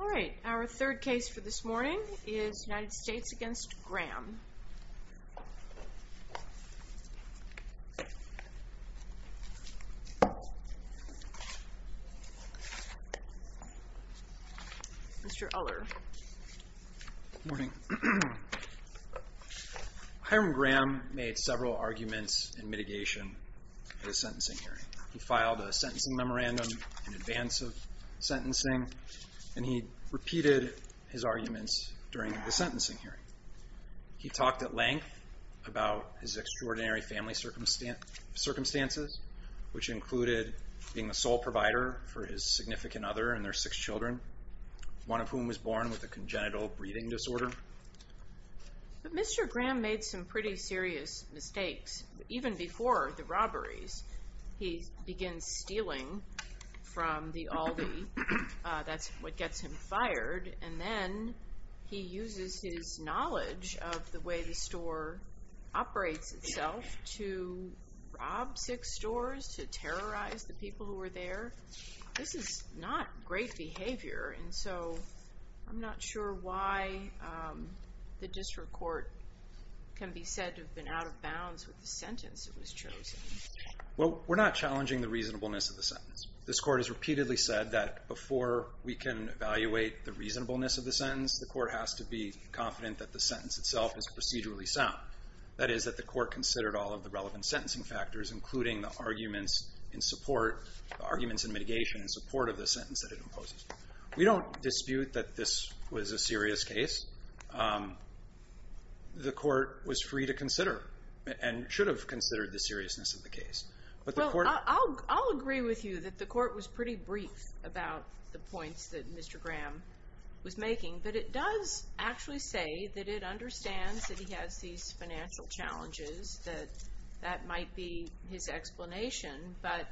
All right, our third case for this morning is United States v. Graham. Good morning. Hiram Graham made several arguments in mitigation of his sentencing hearing. He filed a sentencing memorandum in advance of sentencing, and he repeated his arguments during the sentencing hearing. He talked at length about his extraordinary family circumstances, which included being the sole provider for his significant other and their six children, one of whom was born with a congenital breathing disorder. But Mr. Graham made some pretty serious mistakes. Even before the robberies, he begins stealing from the Aldi. That's what gets him fired. And then he uses his knowledge of the way the store operates itself to rob six stores, to terrorize the people who were there. This is not great behavior, and so I'm not sure why the district court can be said to have been out of bounds with the sentence that was chosen. Well, we're not challenging the reasonableness of the sentence. This court has repeatedly said that before we can evaluate the reasonableness of the sentence, the court has to be confident that the sentence itself is procedurally sound. That is, that the court considered all of the relevant sentencing factors, including the arguments in support, the arguments in mitigation in support of the sentence that it imposes. We don't dispute that this was a serious case. The court was free to consider and should have considered the seriousness of the case. Well, I'll agree with you that the court was pretty brief about the points that Mr. Graham was making, but it does actually say that it understands that he has these financial challenges, that that might be his explanation, but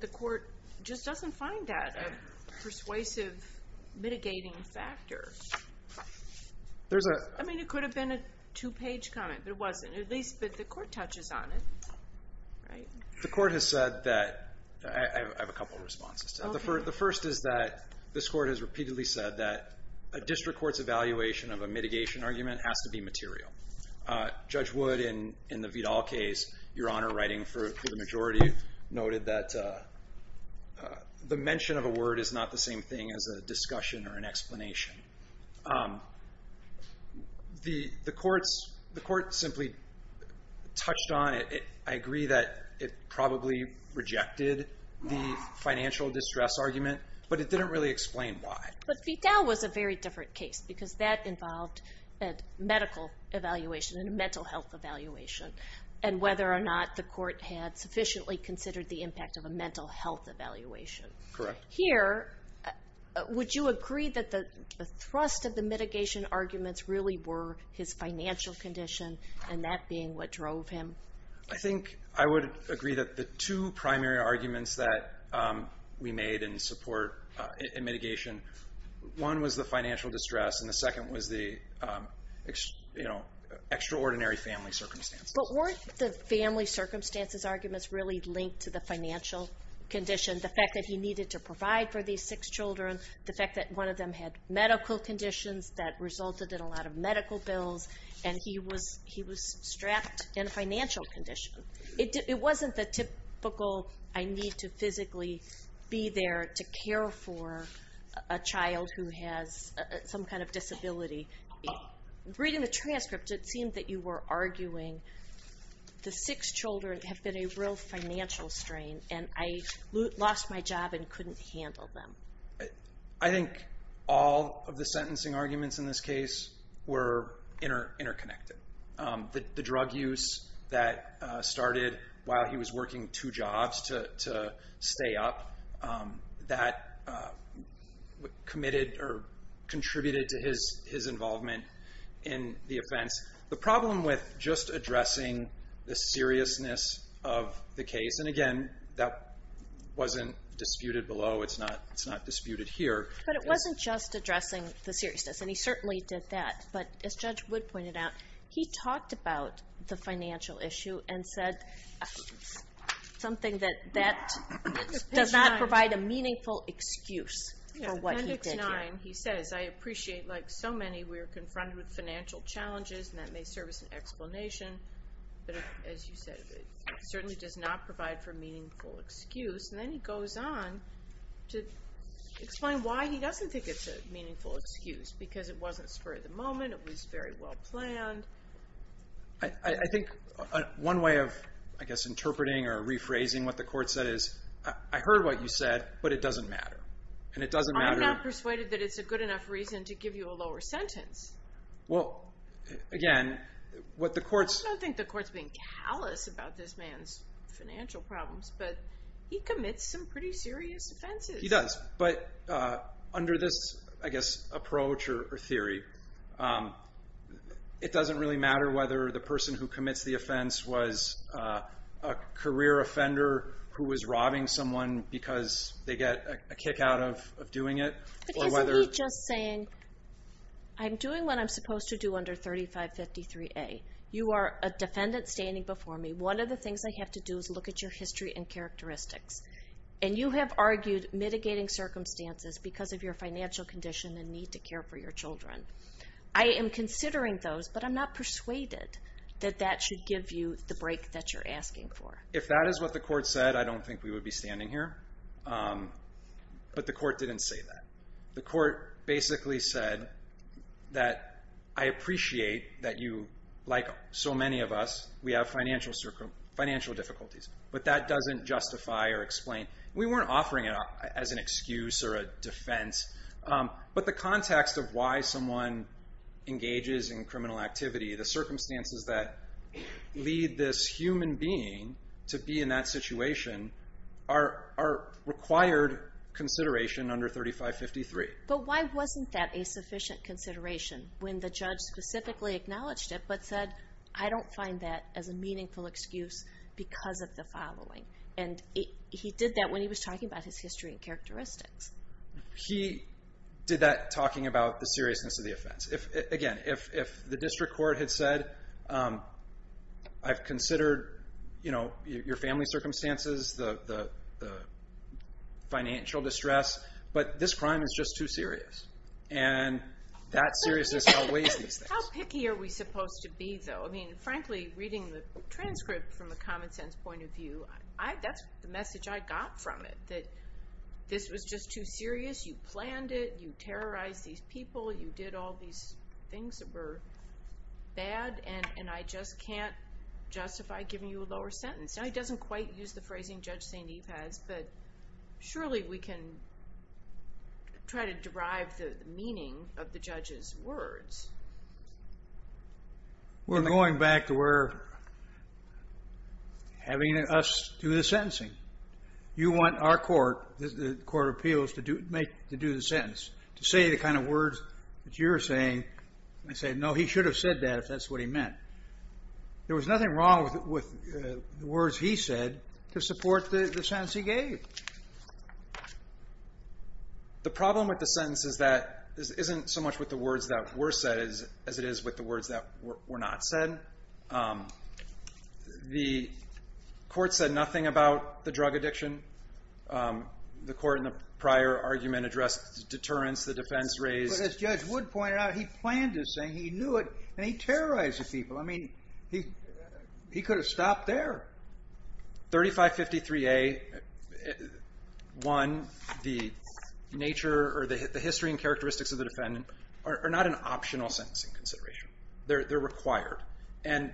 the court just doesn't find that a persuasive mitigating factor. I mean, it could have been a two-page comment, but it wasn't. At least that the court touches on it, right? The court has said that I have a couple of responses to that. The first is that this court has repeatedly said that a district court's evaluation of a mitigation argument has to be material. Judge Wood, in the Vidal case, Your Honor, writing for the majority, noted that the mention of a word is not the same thing as a discussion or an explanation. The court simply touched on it. I agree that it probably rejected the financial distress argument, but it didn't really explain why. But Vidal was a very different case because that involved a medical evaluation and a mental health evaluation, and whether or not the court had sufficiently considered the impact of a mental health evaluation. Correct. Here, would you agree that the thrust of the mitigation arguments really were his financial condition, and that being what drove him? I think I would agree that the two primary arguments that we made in support in mitigation, one was the financial distress and the second was the extraordinary family circumstances. But weren't the family circumstances arguments really linked to the financial condition, the fact that he needed to provide for these six children, the fact that one of them had medical conditions that resulted in a lot of medical bills, and he was strapped in a financial condition? It wasn't the typical I need to physically be there to care for a child who has some kind of disability. Reading the transcript, it seemed that you were arguing the six children have been a real financial strain, and I lost my job and couldn't handle them. I think all of the sentencing arguments in this case were interconnected. The drug use that started while he was working two jobs to stay up, that committed or contributed to his involvement in the offense. The problem with just addressing the seriousness of the case, and again, that wasn't disputed below, it's not disputed here. But it wasn't just addressing the seriousness, and he certainly did that. But as Judge Wood pointed out, he talked about the financial issue and said something that does not provide a meaningful excuse for what he did here. Appendix 9, he says, I appreciate, like so many, we are confronted with financial challenges, and that may serve as an explanation, but as you said, it certainly does not provide for a meaningful excuse. And then he goes on to explain why he doesn't think it's a meaningful excuse, because it wasn't spur of the moment, it was very well planned. I think one way of, I guess, interpreting or rephrasing what the court said is, I heard what you said, but it doesn't matter. I'm not persuaded that it's a good enough reason to give you a lower sentence. Well, again, what the court's... I don't think the court's being callous about this man's financial problems, but he commits some pretty serious offenses. He does, but under this, I guess, approach or theory, it doesn't really matter whether the person who commits the offense was a career offender who was robbing someone because they get a kick out of doing it, or whether... Assuming what I'm supposed to do under 3553A, you are a defendant standing before me, one of the things I have to do is look at your history and characteristics. And you have argued mitigating circumstances because of your financial condition and need to care for your children. I am considering those, but I'm not persuaded that that should give you the break that you're asking for. If that is what the court said, I don't think we would be standing here. But the court didn't say that. The court basically said that I appreciate that you, like so many of us, we have financial difficulties, but that doesn't justify or explain. We weren't offering it as an excuse or a defense, but the context of why someone engages in criminal activity, the circumstances that lead this human being to be in that situation are required consideration under 3553. But why wasn't that a sufficient consideration when the judge specifically acknowledged it, but said, I don't find that as a meaningful excuse because of the following? And he did that when he was talking about his history and characteristics. He did that talking about the seriousness of the offense. Again, if the district court had said, I've considered your family circumstances, the financial distress, but this crime is just too serious. And that seriousness outweighs these things. How picky are we supposed to be, though? I mean, frankly, reading the transcript from the common sense point of view, that's the message I got from it, that this was just too serious. You planned it. You terrorized these people. You did all these things that were bad, and I just can't justify giving you a lower sentence. Now, he doesn't quite use the phrasing Judge St. Eve has, but surely we can try to derive the meaning of the judge's words. We're going back to where having us do the sentencing. You want our court, the court of appeals, to do the sentence, to say the kind of words that you're saying. I say, no, he should have said that if that's what he meant. There was nothing wrong with the words he said to support the sentence he gave. The problem with the sentence is that this isn't so much with the words that were said as it is with the words that were not said. Again, the court said nothing about the drug addiction. The court in the prior argument addressed deterrence the defense raised. But as Judge Wood pointed out, he planned this thing. He knew it, and he terrorized the people. I mean, he could have stopped there. 3553A, one, the nature or the history and characteristics of the defendant are not an optional sentencing consideration. They're required, and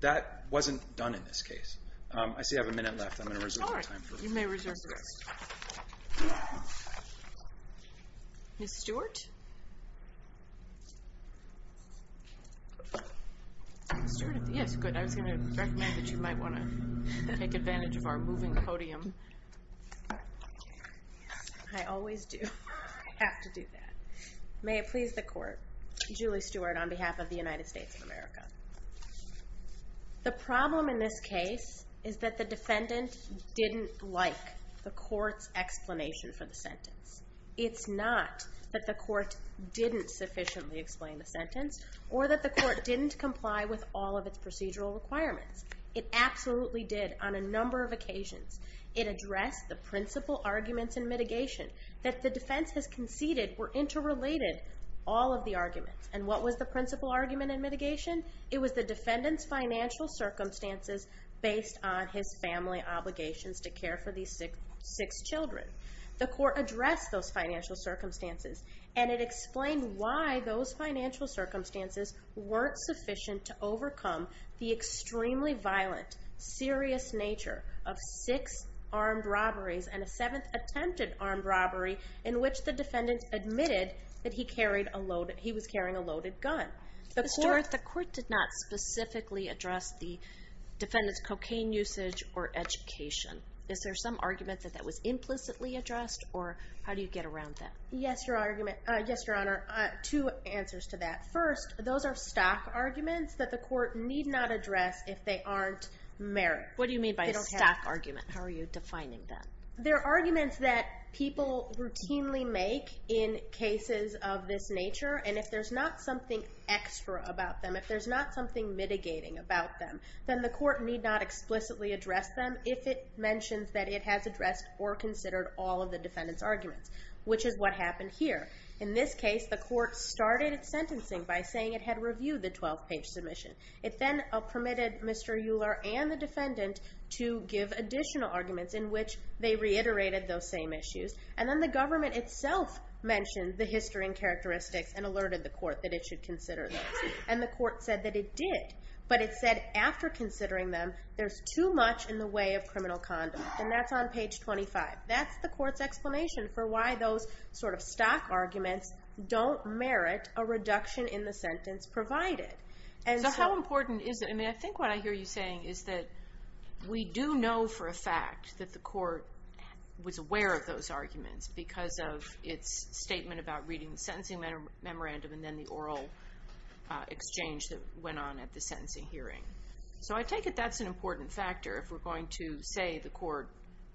that wasn't done in this case. I see I have a minute left. I'm going to reserve my time. All right. You may reserve this. Ms. Stewart? Yes, good. I was going to recommend that you might want to take advantage of our moving podium. I always do. I have to do that. May it please the court. Julie Stewart on behalf of the United States of America. The problem in this case is that the defendant didn't like the court's explanation for the sentence. It's not that the court didn't sufficiently explain the sentence or that the court didn't comply with all of its procedural requirements. It absolutely did on a number of occasions. It addressed the principal arguments in mitigation that the defense has conceded were interrelated, all of the arguments. And what was the principal argument in mitigation? It was the defendant's financial circumstances based on his family obligations to care for these six children. The court addressed those financial circumstances, and it explained why those financial circumstances weren't sufficient to overcome the extremely violent, serious nature of six armed robberies and a seventh attempted armed robbery in which the defendant admitted that he was carrying a loaded gun. Ms. Stewart, the court did not specifically address the defendant's cocaine usage or education. Is there some argument that that was implicitly addressed, or how do you get around that? Yes, Your Honor. Two answers to that. First, those are stock arguments that the court need not address if they aren't merit. What do you mean by a stock argument? How are you defining that? They're arguments that people routinely make in cases of this nature, and if there's not something extra about them, if there's not something mitigating about them, then the court need not explicitly address them if it mentions that it has addressed or considered all of the defendant's arguments, which is what happened here. In this case, the court started its sentencing by saying it had reviewed the 12-page submission. It then permitted Mr. Euler and the defendant to give additional arguments in which they reiterated those same issues, and then the government itself mentioned the history and characteristics and alerted the court that it should consider those. And the court said that it did, but it said after considering them, there's too much in the way of criminal conduct, and that's on page 25. That's the court's explanation for why those sort of stock arguments don't merit a reduction in the sentence provided. So how important is it? I mean, I think what I hear you saying is that we do know for a fact that the court was aware of those arguments because of its statement about reading the sentencing memorandum and then the oral exchange that went on at the sentencing hearing. So I take it that's an important factor if we're going to say the court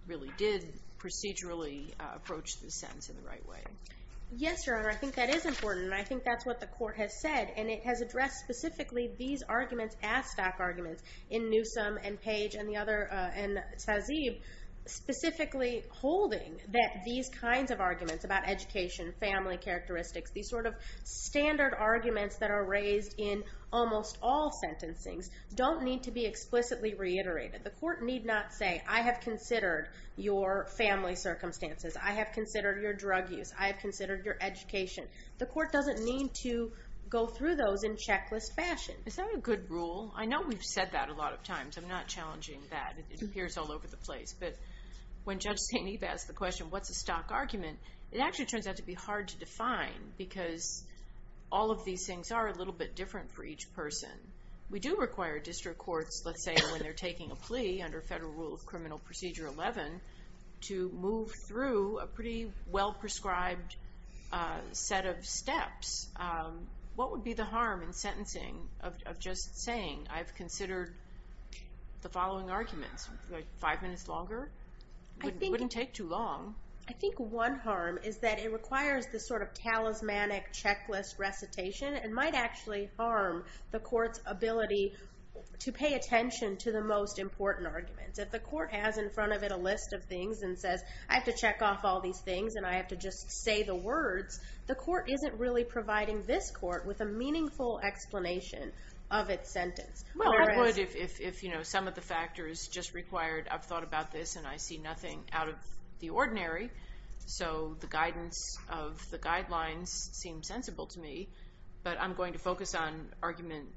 really did procedurally approach the sentence in the right way. Yes, Your Honor, I think that is important, and I think that's what the court has said, and it has addressed specifically these arguments as stock arguments in Newsom and Page and the other, and Sazeeb, specifically holding that these kinds of arguments about education, family characteristics, these sort of standard arguments that are raised in almost all sentencings don't need to be explicitly reiterated. The court need not say, I have considered your family circumstances. I have considered your drug use. I have considered your education. The court doesn't need to go through those in checklist fashion. Is that a good rule? I know we've said that a lot of times. I'm not challenging that. It appears all over the place. But when Judge St. Eve asked the question, what's a stock argument, it actually turns out to be hard to define because all of these things are a little bit different for each person. We do require district courts, let's say, when they're taking a plea under Federal Rule of Criminal Procedure 11 to move through a pretty well-prescribed set of steps. What would be the harm in sentencing of just saying, I've considered the following arguments five minutes longer? It wouldn't take too long. I think one harm is that it requires this sort of talismanic checklist recitation and might actually harm the court's ability to pay attention to the most important arguments. If the court has in front of it a list of things and says, I have to check off all these things and I have to just say the words, the court isn't really providing this court with a meaningful explanation of its sentence. Well, I would if some of the factors just required, I've thought about this and I see nothing out of the ordinary, so the guidance of the guidelines seems sensible to me, but I'm going to focus on argument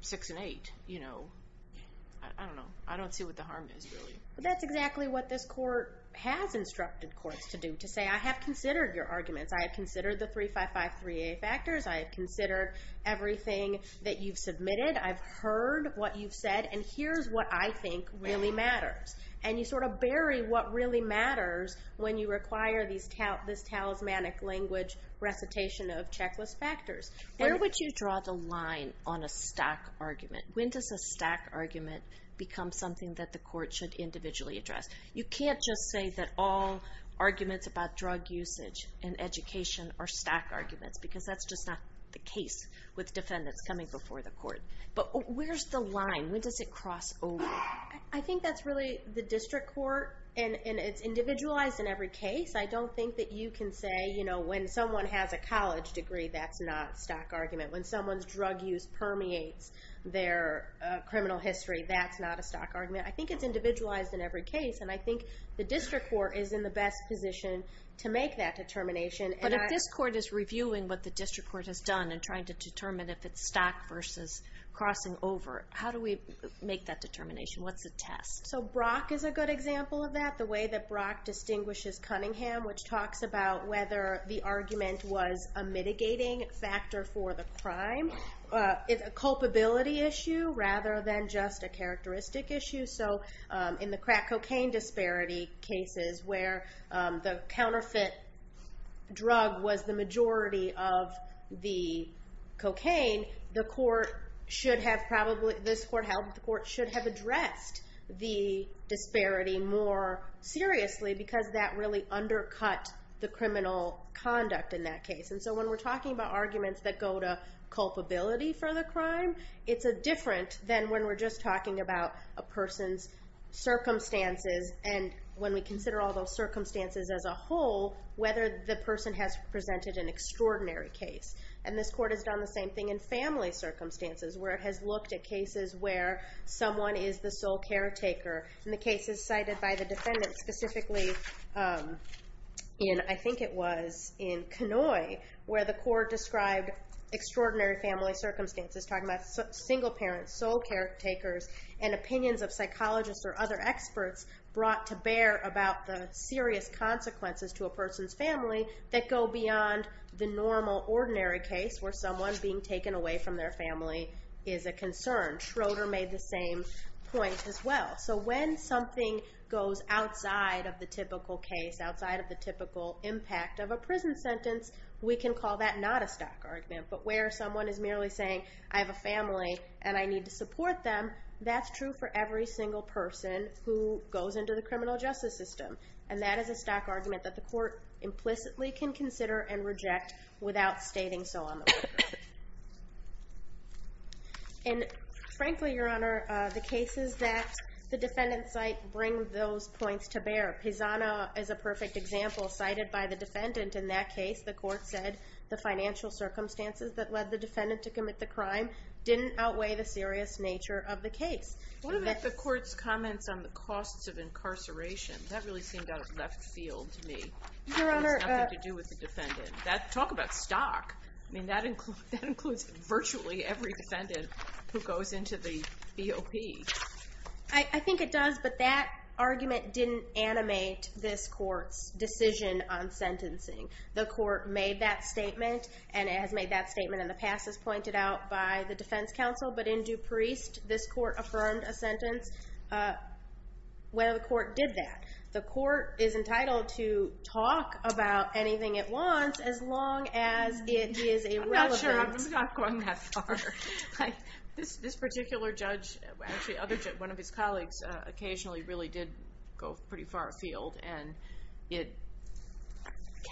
six and eight. I don't know. I don't see what the harm is, really. That's exactly what this court has instructed courts to do, to say, I have considered your arguments. I have considered the 355-3A factors. I have considered everything that you've submitted. I've heard what you've said, and here's what I think really matters. And you sort of bury what really matters when you require this talismanic language recitation of checklist factors. Where would you draw the line on a stock argument? When does a stock argument become something that the court should individually address? You can't just say that all arguments about drug usage and education are stock arguments because that's just not the case with defendants coming before the court. But where's the line? When does it cross over? I think that's really the district court, and it's individualized in every case. I don't think that you can say, you know, when someone has a college degree, that's not a stock argument. When someone's drug use permeates their criminal history, that's not a stock argument. I think it's individualized in every case, and I think the district court is in the best position to make that determination. But if this court is reviewing what the district court has done and trying to determine if it's stock versus crossing over, how do we make that determination? What's the test? So Brock is a good example of that, the way that Brock distinguishes Cunningham, which talks about whether the argument was a mitigating factor for the crime, a culpability issue rather than just a characteristic issue. So in the crack cocaine disparity cases where the counterfeit drug was the majority of the cocaine, the court should have probably, this court held that the court should have addressed the disparity more seriously because that really undercut the criminal conduct in that case. And so when we're talking about arguments that go to culpability for the crime, it's different than when we're just talking about a person's circumstances and when we consider all those circumstances as a whole, whether the person has presented an extraordinary case. And this court has done the same thing in family circumstances where it has looked at cases where someone is the sole caretaker, and the cases cited by the defendant, specifically in, I think it was in Kenoi, where the court described extraordinary family circumstances, talking about single parents, sole caretakers, and opinions of psychologists or other experts brought to bear about the serious consequences to a person's family that go beyond the normal, ordinary case where someone being taken away from their family is a concern. Schroeder made the same point as well. So when something goes outside of the typical case, outside of the typical impact of a prison sentence, we can call that not a stock argument. But where someone is merely saying, I have a family and I need to support them, that's true for every single person who goes into the criminal justice system. And that is a stock argument that the court implicitly can consider and reject without stating so on the record. And frankly, Your Honor, the cases that the defendants cite bring those points to bear. Pisana is a perfect example, cited by the defendant in that case. The court said the financial circumstances that led the defendant to commit the crime didn't outweigh the serious nature of the case. What about the court's comments on the costs of incarceration? That really seemed out of left field to me. It has nothing to do with the defendant. Talk about stock. That includes virtually every defendant who goes into the BOP. I think it does, but that argument didn't animate this court's decision on sentencing. The court made that statement, and it has made that statement in the past, as pointed out by the defense counsel. But in Dupreist, this court affirmed a sentence. Well, the court did that. The court is entitled to talk about anything it wants as long as it is a relevant... I'm not sure. I'm not going that far. This particular judge, actually one of his colleagues, occasionally really did go pretty far afield, and it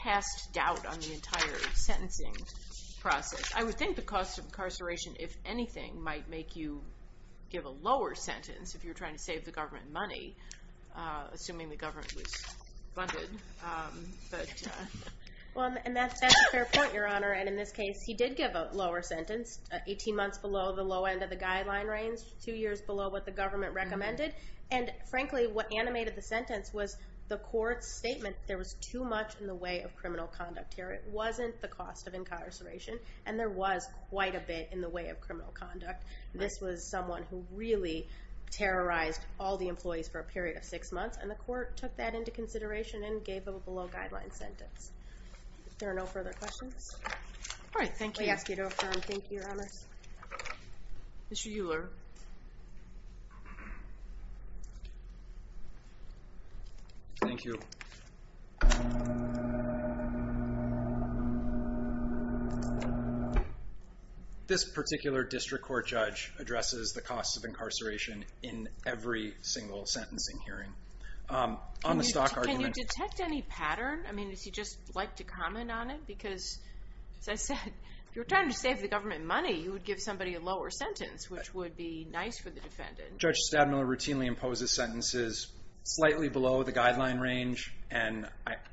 cast doubt on the entire sentencing process. I would think the cost of incarceration, if anything, might make you give a lower sentence if you were trying to save the government money, assuming the government was funded. And that's a fair point, Your Honor. And in this case, he did give a lower sentence, 18 months below the low end of the guideline range, two years below what the government recommended. And frankly, what animated the sentence was the court's statement that there was too much in the way of criminal conduct here. It wasn't the cost of incarceration, and there was quite a bit in the way of criminal conduct. This was someone who really terrorized all the employees for a period of six months, and the court took that into consideration and gave him a below-guideline sentence. If there are no further questions... All right, thank you. ...we ask you to affirm. Thank you, Your Honors. Mr. Euler. This particular district court judge addresses the cost of incarceration in every single sentencing hearing. On the stock argument... Can you detect any pattern? I mean, would you just like to comment on it? Because, as I said, if you were trying to save the government money, you would give somebody a lower sentence, which would be nice for the defendant. Judge Stadmiller routinely imposes sentences slightly below the guideline range, and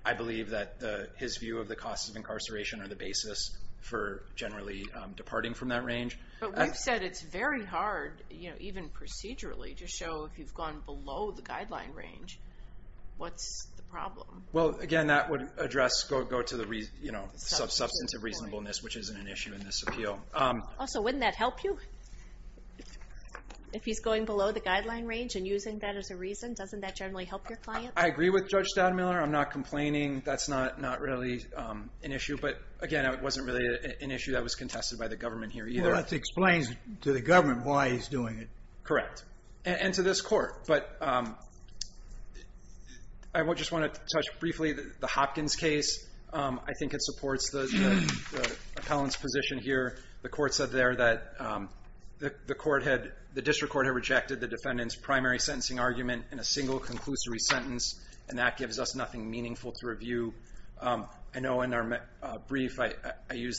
I believe that his view of the cost of incarceration are the basis for generally departing from that range. But we've said it's very hard, even procedurally, to show if you've gone below the guideline range, what's the problem? Well, again, that would address... go to the substance of reasonableness, which isn't an issue in this appeal. Also, wouldn't that help you? If he's going below the guideline range and using that as a reason, doesn't that generally help your client? I agree with Judge Stadmiller. I'm not complaining. That's not really an issue. But, again, it wasn't really an issue that was contested by the government here either. Well, that explains to the government why he's doing it. Correct. And to this Court. But... I just want to touch briefly on the Hopkins case. I think it supports the appellant's position here. The Court said there that the District Court had rejected the defendant's primary sentencing argument in a single conclusory sentence, and that gives us nothing meaningful to review. I know in our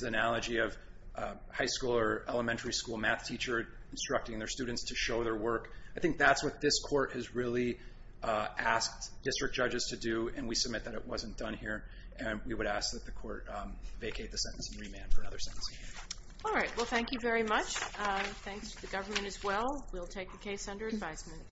analogy of a high school or elementary school math teacher instructing their students to show their work. I think that's what this Court has really asked District judges to do, and we submit that it wasn't done here. And we would ask that the Court vacate the sentence and remand for another sentencing argument. All right. Well, thank you very much. Thanks to the government as well. We'll take the case under advisement.